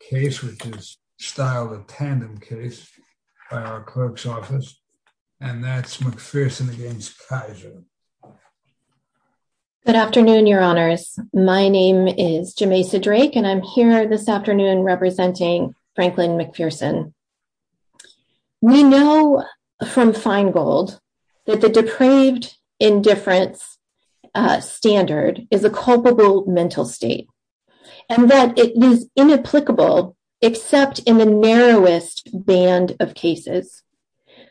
case, which is styled a tandem case by our clerk's office, and that's McPherson against Keyser. Good afternoon, your honors. My name is Jameisa Drake, and I'm here this afternoon representing Franklin McPherson. We know from Feingold that the depraved indifference standard is a culpable mental state, and that it is inapplicable except in the narrowest band of cases.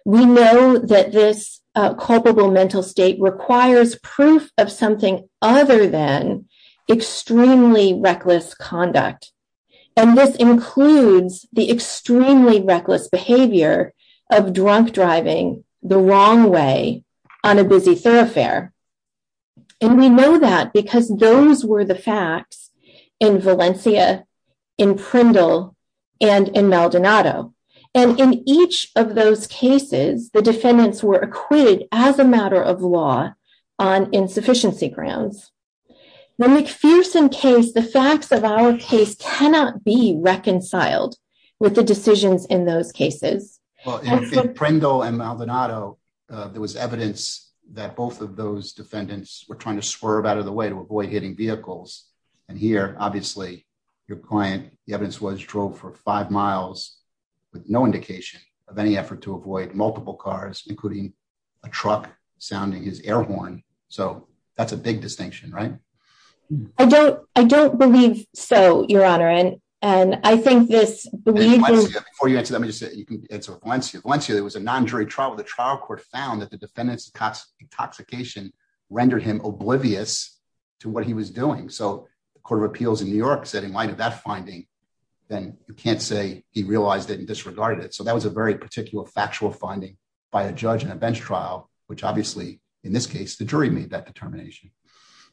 We know that this culpable mental state requires proof of something other than extremely reckless conduct, and this includes the extremely reckless behavior of drunk driving the wrong way on a busy thoroughfare. And we know that because those were the facts in Valencia, in Prindle, and in Maldonado, and in each of those cases the defendants were acquitted as a matter of law on insufficiency grounds. The McPherson case, the facts of our case, cannot be reconciled with the decisions in those defendants were trying to swerve out of the way to avoid hitting vehicles. And here, obviously, your client, the evidence was, drove for five miles with no indication of any effort to avoid multiple cars, including a truck sounding his air horn. So that's a big distinction, right? I don't believe so, your honor, and I think this... Before you answer that, let me just say, it's Valencia. Valencia, there was a non-jury trial. The trial court found that the defendant's intoxication rendered him oblivious to what he was doing. So the Court of Appeals in New York said, in light of that finding, then you can't say he realized it and disregarded it. So that was a very particular factual finding by a judge in a bench trial, which obviously, in this case, the jury made that determination.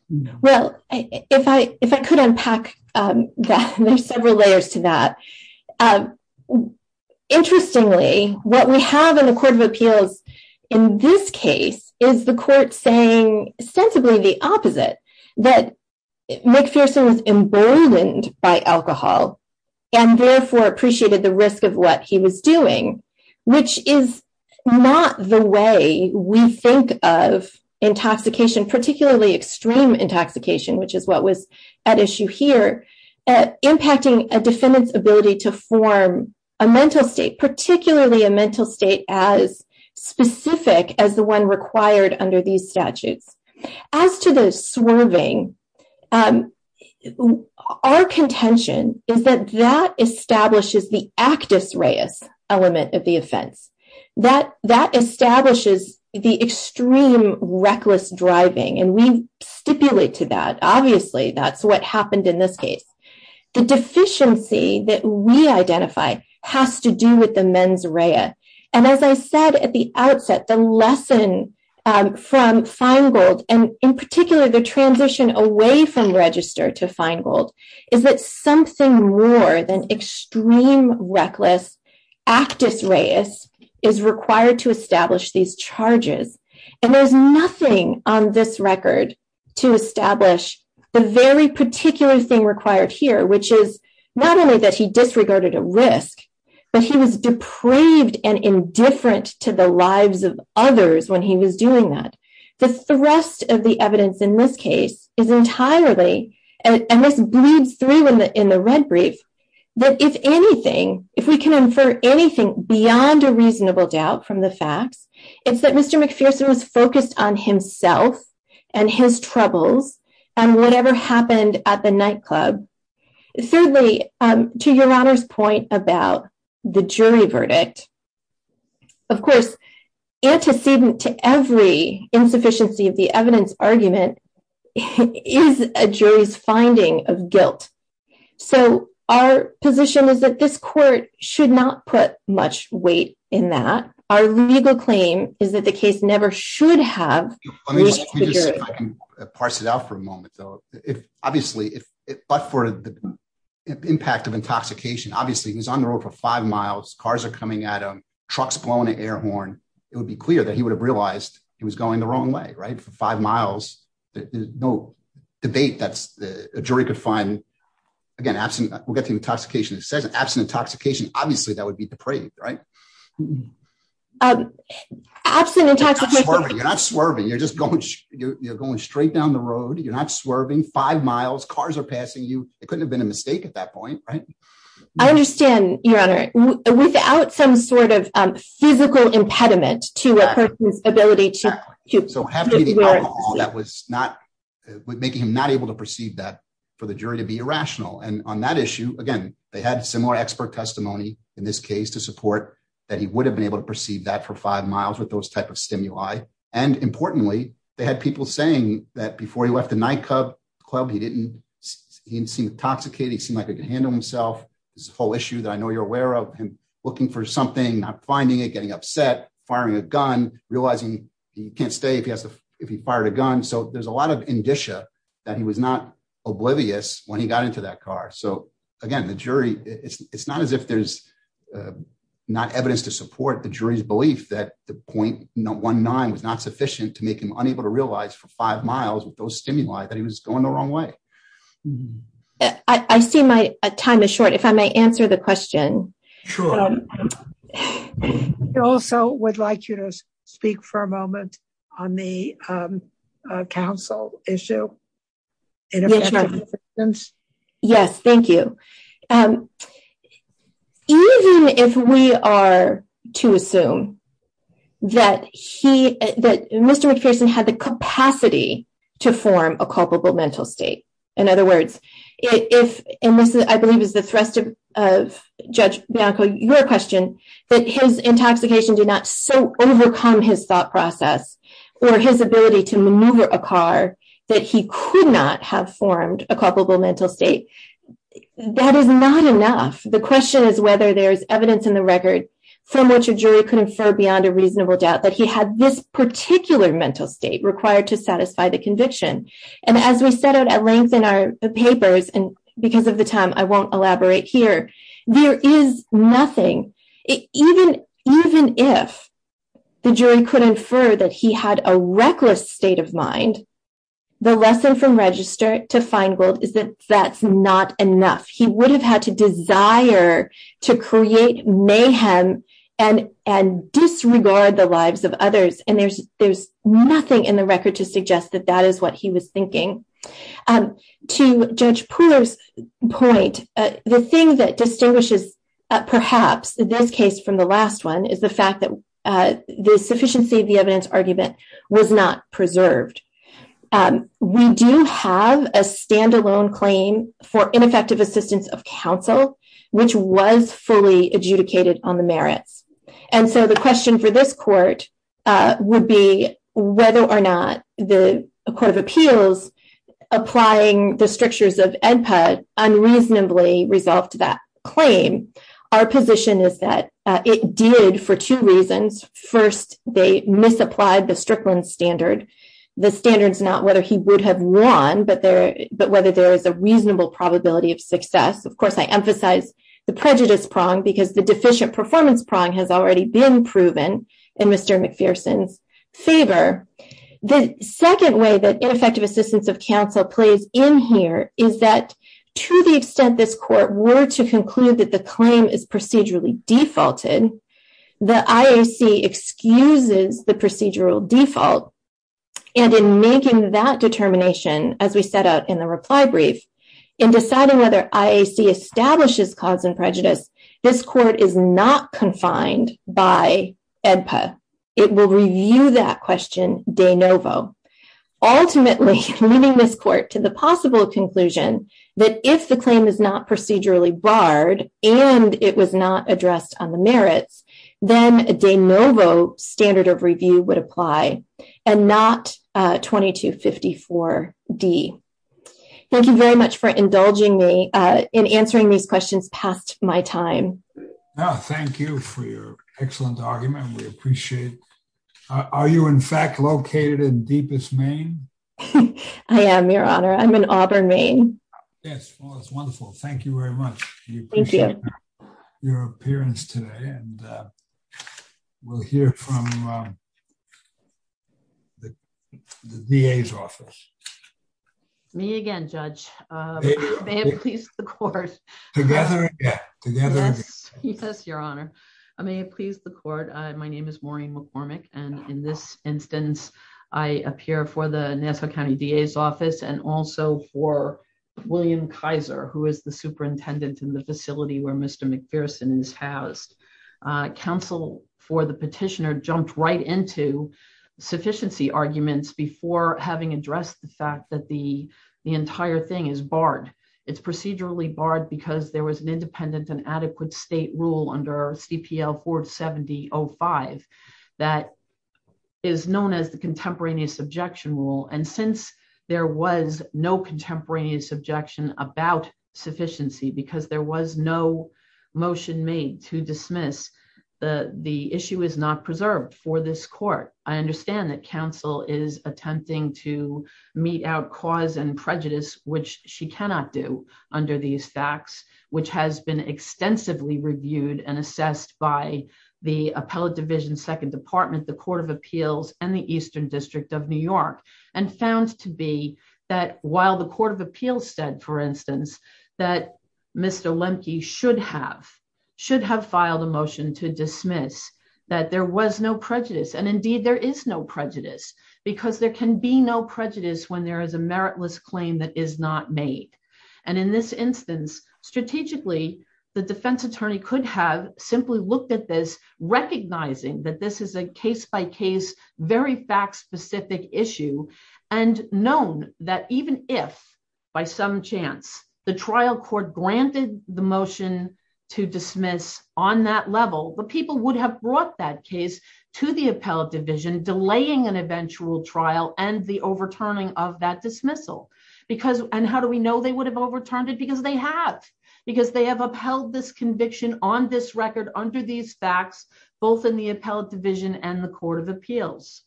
Well, if I could unpack that, there's several layers to that. Interestingly, what we have in the Court of Appeals in this case is the court saying sensibly the opposite, that McPherson was emboldened by alcohol and therefore appreciated the risk of what he was doing, which is not the way we think of intoxication, particularly extreme intoxication, which is what was at issue here, impacting a defendant's ability to form a mental state, particularly a mental state as specific as the one required under these statutes. As to the swerving, our contention is that that establishes the actus reus element of the offense. That establishes the extreme reckless driving, and we stipulate to that, obviously, that's what happened in this case. The deficiency that we identify has to do with the mens rea, and as I said at the outset, the lesson from Feingold, and in particular, the transition away from register to Feingold, is that something more than extreme reckless actus reus is required to establish these charges, and there's nothing on this record to establish the very particular thing required here, which is not only that he disregarded a risk, but he was depraved and indifferent to the lives of others when he was doing that. The thrust of the evidence in this case is entirely, and this bleeds through in the red brief, that if anything, if we can infer anything beyond a reasonable doubt from the facts, it's that Mr. McPherson was focused on himself and his troubles and whatever happened at the nightclub. Thirdly, to your honor's point about the jury verdict, of course, antecedent to every insufficiency of the evidence argument is a jury's finding of guilt, so our position is that this should have... Let me just see if I can parse it out for a moment, though. Obviously, but for the impact of intoxication, obviously, he's on the road for five miles, cars are coming at him, trucks blowing an air horn, it would be clear that he would have realized he was going the wrong way, right? For five miles, there's no debate that a jury could find, again, absent, we'll get to the intoxication, absent intoxication, obviously, that would be depraved, right? Absent intoxication... You're not swerving, you're just going straight down the road, you're not swerving, five miles, cars are passing you, it couldn't have been a mistake at that point, right? I understand, your honor, without some sort of physical impediment to a person's ability to... Exactly, so having the alcohol that was not, making him not able to perceive that for the jury to be irrational, and on that issue, again, they had similar expert testimony in this case to support that he would have been able to perceive that for five miles with those type of stimuli, and importantly, they had people saying that before he left the nightclub, he didn't seem intoxicated, he seemed like he could handle himself, this whole issue that I know you're aware of, him looking for something, not finding it, getting upset, firing a gun, realizing he can't stay if he fired a gun, so there's a lot of indicia that he was not oblivious when he got into that car, so again, the jury, it's not as if there's not evidence to support the jury's belief that the .19 was not sufficient to make him unable to realize for five miles with those stimuli that he was going the wrong way. I see my time is short, if I may answer the question. Sure. I also would like you to speak for a moment on the counsel issue. Yes, thank you. Even if we are to assume that he, that Mr. McPherson had the capacity to form a culpable mental state, in other words, if, and this I believe is the thrust of Judge Bianco, your question, that his intoxication did not so overcome his thought process or his ability to maneuver a car that he could not have formed a culpable mental state, that is not enough. The question is whether there is evidence in the record from which a jury could infer beyond a conviction, and as we set out at length in our papers, and because of the time I won't elaborate here, there is nothing. Even if the jury could infer that he had a reckless state of mind, the lesson from Register to Feingold is that that's not enough. He would have had to desire to create mayhem and disregard the lives of others, and there's nothing in the record to that is what he was thinking. To Judge Pooler's point, the thing that distinguishes perhaps this case from the last one is the fact that the sufficiency of the evidence argument was not preserved. We do have a standalone claim for ineffective assistance of counsel, which was fully adjudicated on the merits, and so the question for this court would be whether or not the Court of Appeals, applying the strictures of EDPA, unreasonably resolved that claim. Our position is that it did for two reasons. First, they misapplied the Strickland standard. The standard's not whether he would have won, but whether there is a reasonable probability of success. Of course, I emphasize the prejudice prong because the deficient performance prong has already been proven in Mr. McPherson's favor. The second way that ineffective assistance of counsel plays in here is that to the extent this court were to conclude that the claim is procedurally defaulted, the IAC excuses the procedural default, and in making that determination as we set out in the reply brief, in deciding whether IAC establishes cause and prejudice, this court is not confined by EDPA. It will review that question de novo, ultimately leading this court to the possible conclusion that if the claim is not procedurally barred and it was not addressed on the merits, then a de novo standard of review would apply and not 2254D. Thank you very much for indulging me in answering these questions past my time. Thank you for your excellent argument. We appreciate it. Are you in fact located in deepest Maine? I am, your honor. I'm in Auburn, Maine. Yes, well, that's wonderful. Thank you very much. We appreciate your appearance today and we'll hear from the DA's office. Me again, Judge. May it please the court. Together again. Yes, your honor. May it please the court. My name is Maureen McCormick and in this instance, I appear for the Nassau County DA's office and also for William Kaiser, who is the superintendent in the facility where Mr. McPherson is housed. Counsel for the petitioner jumped right into sufficiency arguments before having addressed the fact that the entire thing is barred. It's procedurally barred because there was an independent and adequate state rule under CPL 470.05 that is known as the contemporaneous objection rule. And since there was no contemporaneous objection about sufficiency, because there was no motion made to dismiss, the issue is not preserved for this court. I understand that counsel is attempting to mete out cause and prejudice, which she cannot do under these facts, which has been extensively reviewed and assessed by the appellate division second department, the court of appeals and the eastern district of New York and found to be that while the court of appeals said, for instance, that Mr. Lemke should have should have filed a motion to dismiss that there was no prejudice and indeed there is no prejudice because there can be no prejudice when there is a meritless claim that is not made. And in this instance, strategically, the defense attorney could have simply looked at this, recognizing that this is a case-by-case, very fact-specific issue and known that even if by some chance the trial court granted the motion to dismiss on that level, the people would have brought that case to the appellate division, delaying an eventual trial and the overturning of that dismissal. And how do we know they would have overturned it? Because they have, because they have upheld this conviction on this record under these facts, both in the appellate division and the court of appeals.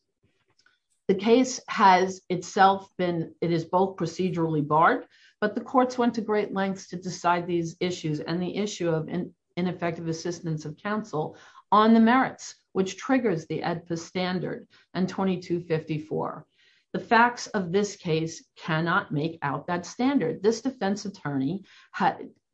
The case has itself been, it is both procedurally barred, but the courts went to great lengths to decide these issues and the issue of ineffective assistance of counsel on the merits, which triggers the ADFA standard and 2254. The facts of this case cannot make out that standard. This defense attorney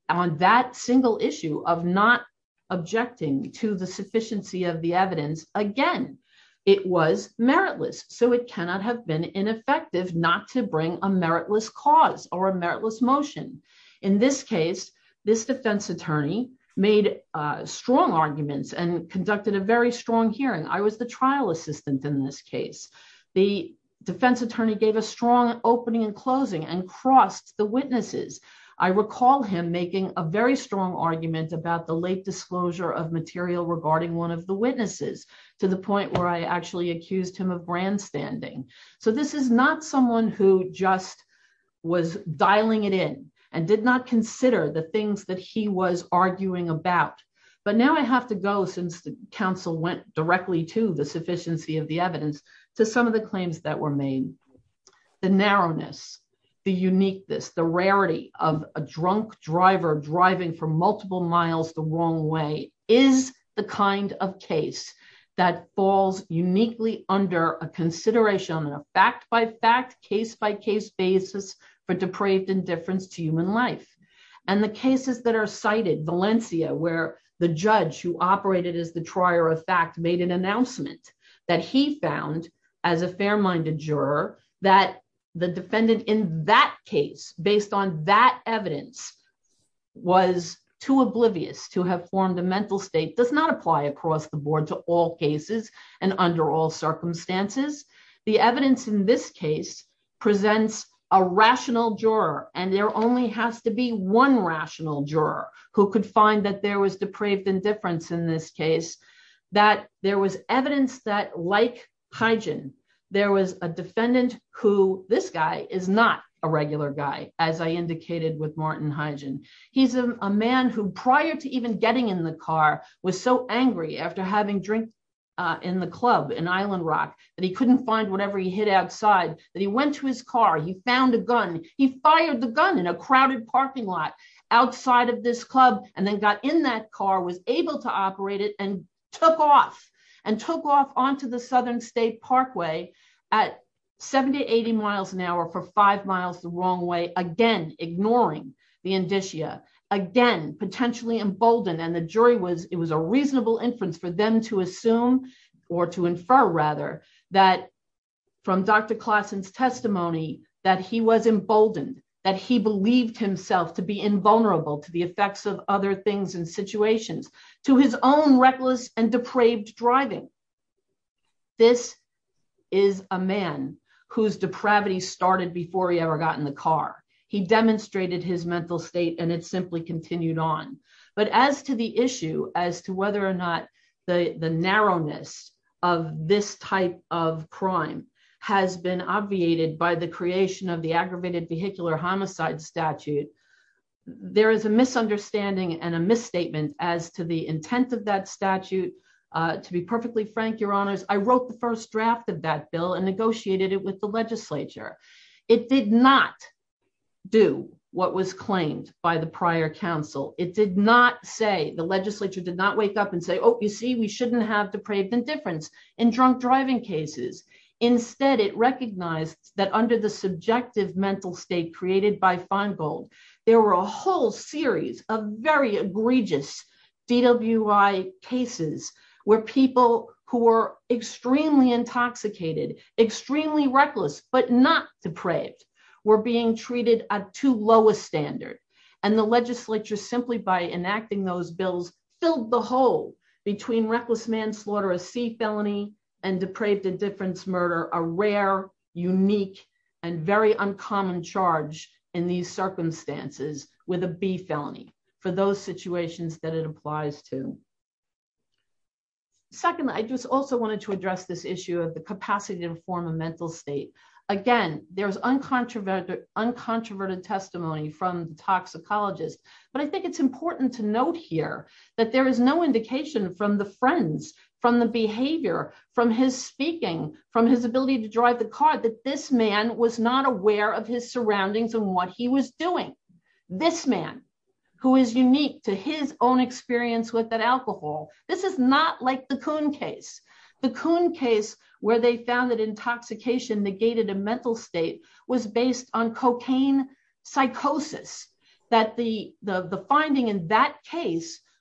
on that single issue of not objecting to the sufficiency of the evidence, again, it was meritless. So it cannot have been ineffective not to bring a meritless cause or a meritless motion. In this case, this defense attorney made strong arguments and conducted a very strong hearing. I the trial assistant in this case, the defense attorney gave a strong opening and closing and crossed the witnesses. I recall him making a very strong argument about the late disclosure of material regarding one of the witnesses to the point where I actually accused him of brandstanding. So this is not someone who just was dialing it in and did not consider the things that he was the evidence to some of the claims that were made. The narrowness, the uniqueness, the rarity of a drunk driver driving for multiple miles the wrong way is the kind of case that falls uniquely under a consideration on a fact-by-fact, case-by-case basis for depraved indifference to human life. And the cases that are cited, Valencia, where the judge who operated as the trier of fact made an announcement that he found as a fair-minded juror that the defendant in that case, based on that evidence, was too oblivious to have formed a mental state does not apply across the board to all cases and under all circumstances. The evidence in this case presents a rational juror, and there only has to be one rational juror who could find that there was depraved indifference in this case, that there was evidence that, like Hygen, there was a defendant who, this guy, is not a regular guy, as I indicated with Martin Hygen. He's a man who, prior to even getting in the car, was so angry after having drink in the club in Island Rock, that he couldn't find whatever he hid outside, that he went to his car, he found a gun, he fired the gun in a crowded parking lot outside of this took off and took off onto the Southern State Parkway at 70, 80 miles an hour for five miles the wrong way, again, ignoring the indicia, again, potentially emboldened, and the jury was, it was a reasonable inference for them to assume, or to infer rather, that from Dr. Classen's testimony, that he was emboldened, that he believed himself to be invulnerable to the effects of other things and situations, to his own reckless and depraved driving. This is a man whose depravity started before he ever got in the car. He demonstrated his mental state and it simply continued on. But as to the issue, as to whether or not the narrowness of this type of crime has been obviated by the creation of the aggravated vehicular homicide statute, there is a misunderstanding and a misstatement as to the intent of that statute. To be perfectly frank, your honors, I wrote the first draft of that bill and negotiated it with the legislature. It did not do what was claimed by the prior counsel. It did not say, the legislature did not wake up and say, oh, you see, we shouldn't have depraved indifference in drunk driving cases. Instead, it recognized that under the subjective mental state created by Feingold, there were a whole series of very egregious DWI cases where people who were extremely intoxicated, extremely reckless, but not depraved, were being treated at too low a standard. And the legislature, simply by enacting those bills, filled the hole between reckless manslaughter, a C felony, and depraved indifference murder, a rare, unique, and very uncommon charge in these circumstances with a B felony for those situations that it applies to. Secondly, I just also wanted to address this issue of the capacity to inform a mental state. Again, there's uncontroverted testimony from toxicologists, but I think it's important to note here that there is no indication from the friends, from the behavior, from his speaking, from his ability to drive the car, that this man was not aware of his surroundings and what he was doing. This man, who is unique to his own experience with that alcohol, this is not like the Kuhn case. The Kuhn case where they found that intoxication negated a mental state was based on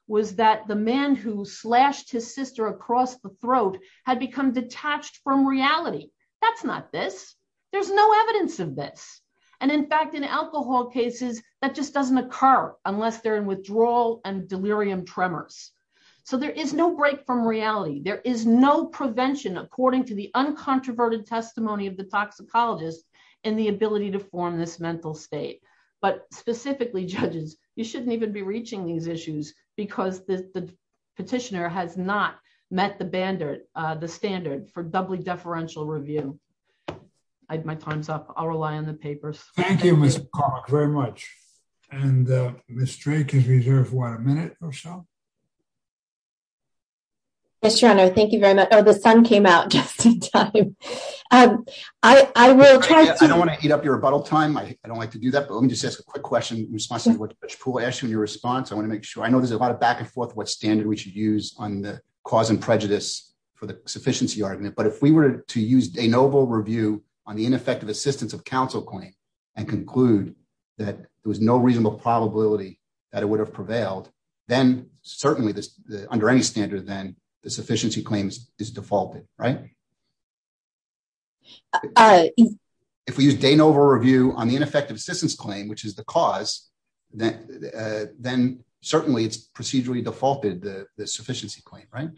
was that the man who slashed his sister across the throat had become detached from reality. That's not this. There's no evidence of this. And in fact, in alcohol cases, that just doesn't occur unless they're in withdrawal and delirium tremors. So there is no break from reality. There is no prevention according to the uncontroverted testimony of the toxicologist and the ability to form this mental state. But specifically, judges, you shouldn't even be reaching these issues because the petitioner has not met the standard for doubly deferential review. My time's up. I'll rely on the papers. Thank you, Ms. Clark, very much. And Ms. Drake, if you have one minute or so. Yes, Your Honor, thank you very much. Oh, the sun came out just in time. I don't want to eat up your rebuttal time. I don't like to do that, but let me just ask a quick question in response to what Judge Poole asked you in your response. I want to make sure. I know there's a lot of back and forth what standard we should use on the cause and prejudice for the sufficiency argument. But if we were to use de novo review on the ineffective assistance of counsel claim and conclude that there was no reasonable probability that it would have prevailed, then certainly under any standard, then the sufficiency claims is defaulted, right? If we use de novo review on the ineffective assistance claim, which is the cause, then certainly it's procedurally defaulted, the sufficiency claim, right?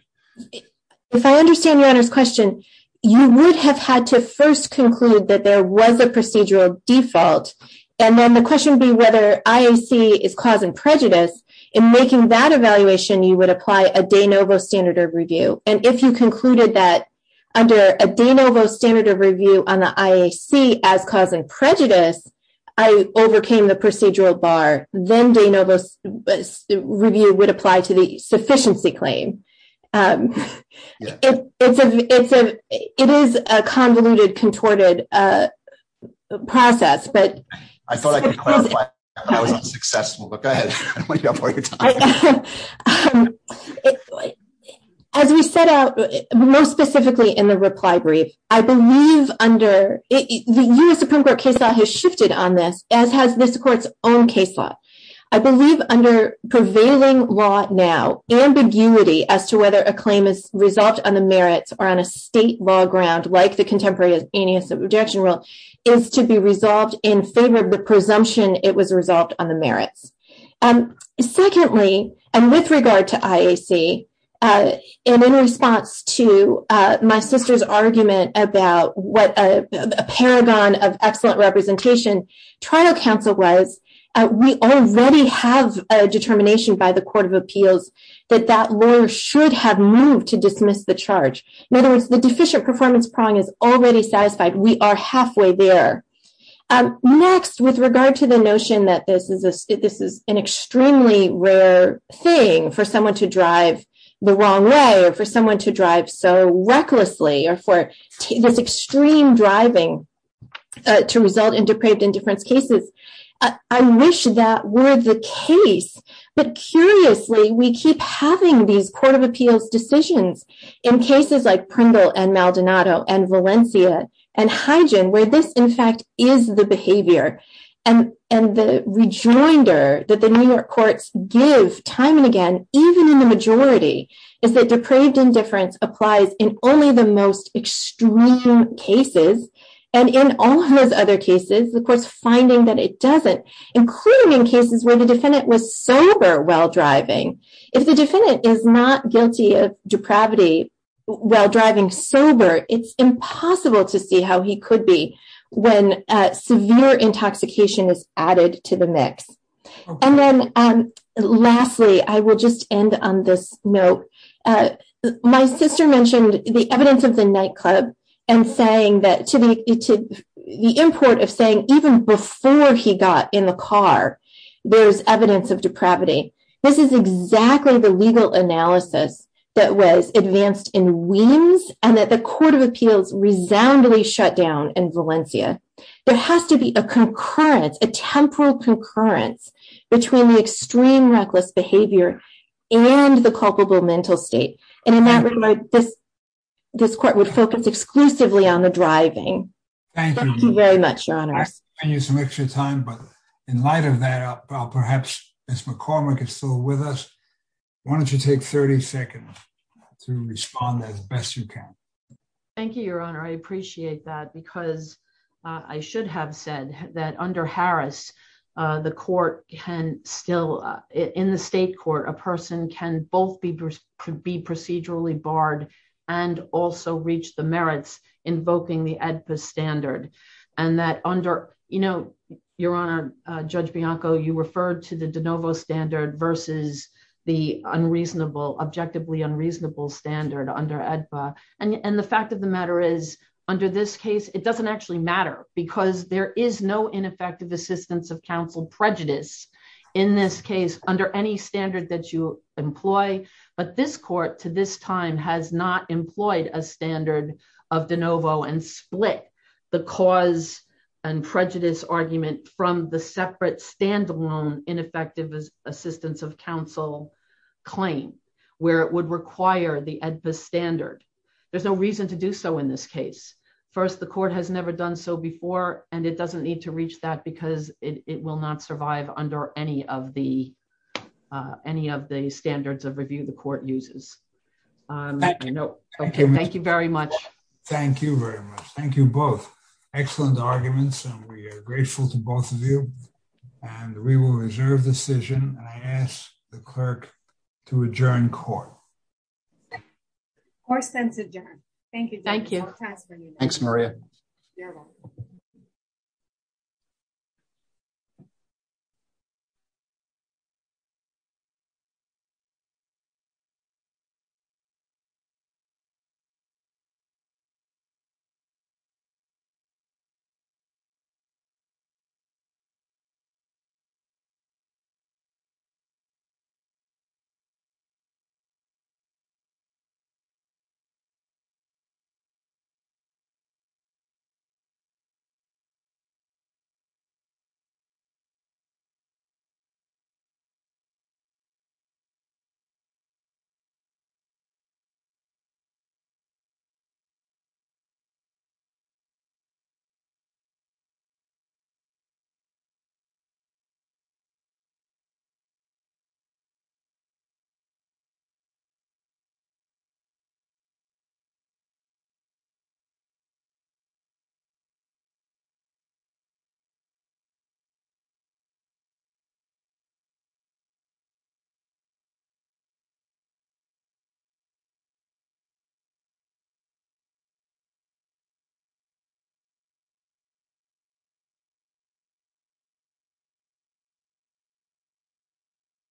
If I understand Your Honor's question, you would have had to first conclude that there was a procedural default. And then the question would be whether IAC is causing prejudice in making that evaluation, you would apply a de novo standard of review. And if you concluded that under a de novo standard of review on the IAC as causing prejudice, I overcame the procedural bar, then de novo review would apply to the sufficiency claim. It is a convoluted, contorted process. I thought I could clarify that I wasn't successful, but go ahead. As we set out, most specifically in the reply brief, I believe under the U.S. Supreme Court case law has shifted on this, as has this court's own case law. I believe under prevailing law now, ambiguity as to whether a claim is resolved on the merits or on a state law ground, like the Contemporary Annihilation Rejection Rule is to be resolved in favor of the presumption it was resolved on the merits. Secondly, and with regard to IAC, and in response to my sister's argument about what a paragon of excellent representation trial counsel was, we already have a determination by the Court of Appeals that that lawyer should have moved to dismiss the charge. In other words, the deficient performance prong is already satisfied. We are halfway there. Next, with regard to the notion that this is an extremely rare thing for someone to drive the wrong way, or for someone to drive so recklessly, or for this extreme driving to result in depraved indifference cases, I wish that were the case. But curiously, we keep having these Court of Appeals decisions in cases like Prundle and Maldonado and Valencia and Hygen, where this, in fact, is the behavior. And the rejoinder that the New York courts give time and again, even in the majority, is that depraved indifference applies in only the most extreme cases. And in all of those other cases, the court's finding that it doesn't, including in cases where the defendant was sober while driving. If the defendant is not guilty of depravity, while driving sober, it's impossible to see how he could be when severe intoxication is added to the mix. And then, lastly, I will just end on this note. My sister mentioned the evidence of the nightclub, and the import of saying even before he got in the car, there's evidence of depravity. This is exactly the legal analysis that was advanced in Weems, and that the Court of Appeals resoundingly shut down in Valencia. There has to be a concurrent, a temporal concurrence between the extreme reckless behavior and the culpable mental state. And in that regard, this court would focus exclusively on the driving. Thank you. Thank you very much, Your Honors. Thank you so much for your time. But in light of that, perhaps Ms. McCormick is still with us. Why don't you take 30 seconds to respond as best you can. Thank you, Your Honor. I appreciate that, because I should have said that under Harris, the court can still, in the state court, a person can both be procedurally barred and also reach the merits invoking the AEDPA standard. And that under, you know, Your Honor, Judge Bianco, you referred to the de novo standard versus the unreasonable, objectively unreasonable standard under AEDPA. And the fact of the matter is, under this case, it doesn't actually matter, because there is no ineffective assistance of counsel prejudice in this case under any standard that you employ. But this court to this time has not employed a standard of de novo and split the cause and prejudice argument from the separate standalone ineffective assistance of counsel claim, where it would require the AEDPA standard. There's no reason to do so in this case. First, the court has never done so before. And it doesn't need to reach that because it will not survive under any of the any of the standards of review the court uses. Thank you very much. Thank you very much. Thank you both. Excellent arguments. And we are grateful to both of you. And we will reserve decision. I ask the clerk to adjourn court. Court sends adjourn. Thank you. Thank you. Thanks, Maria. Thank you. Thank you.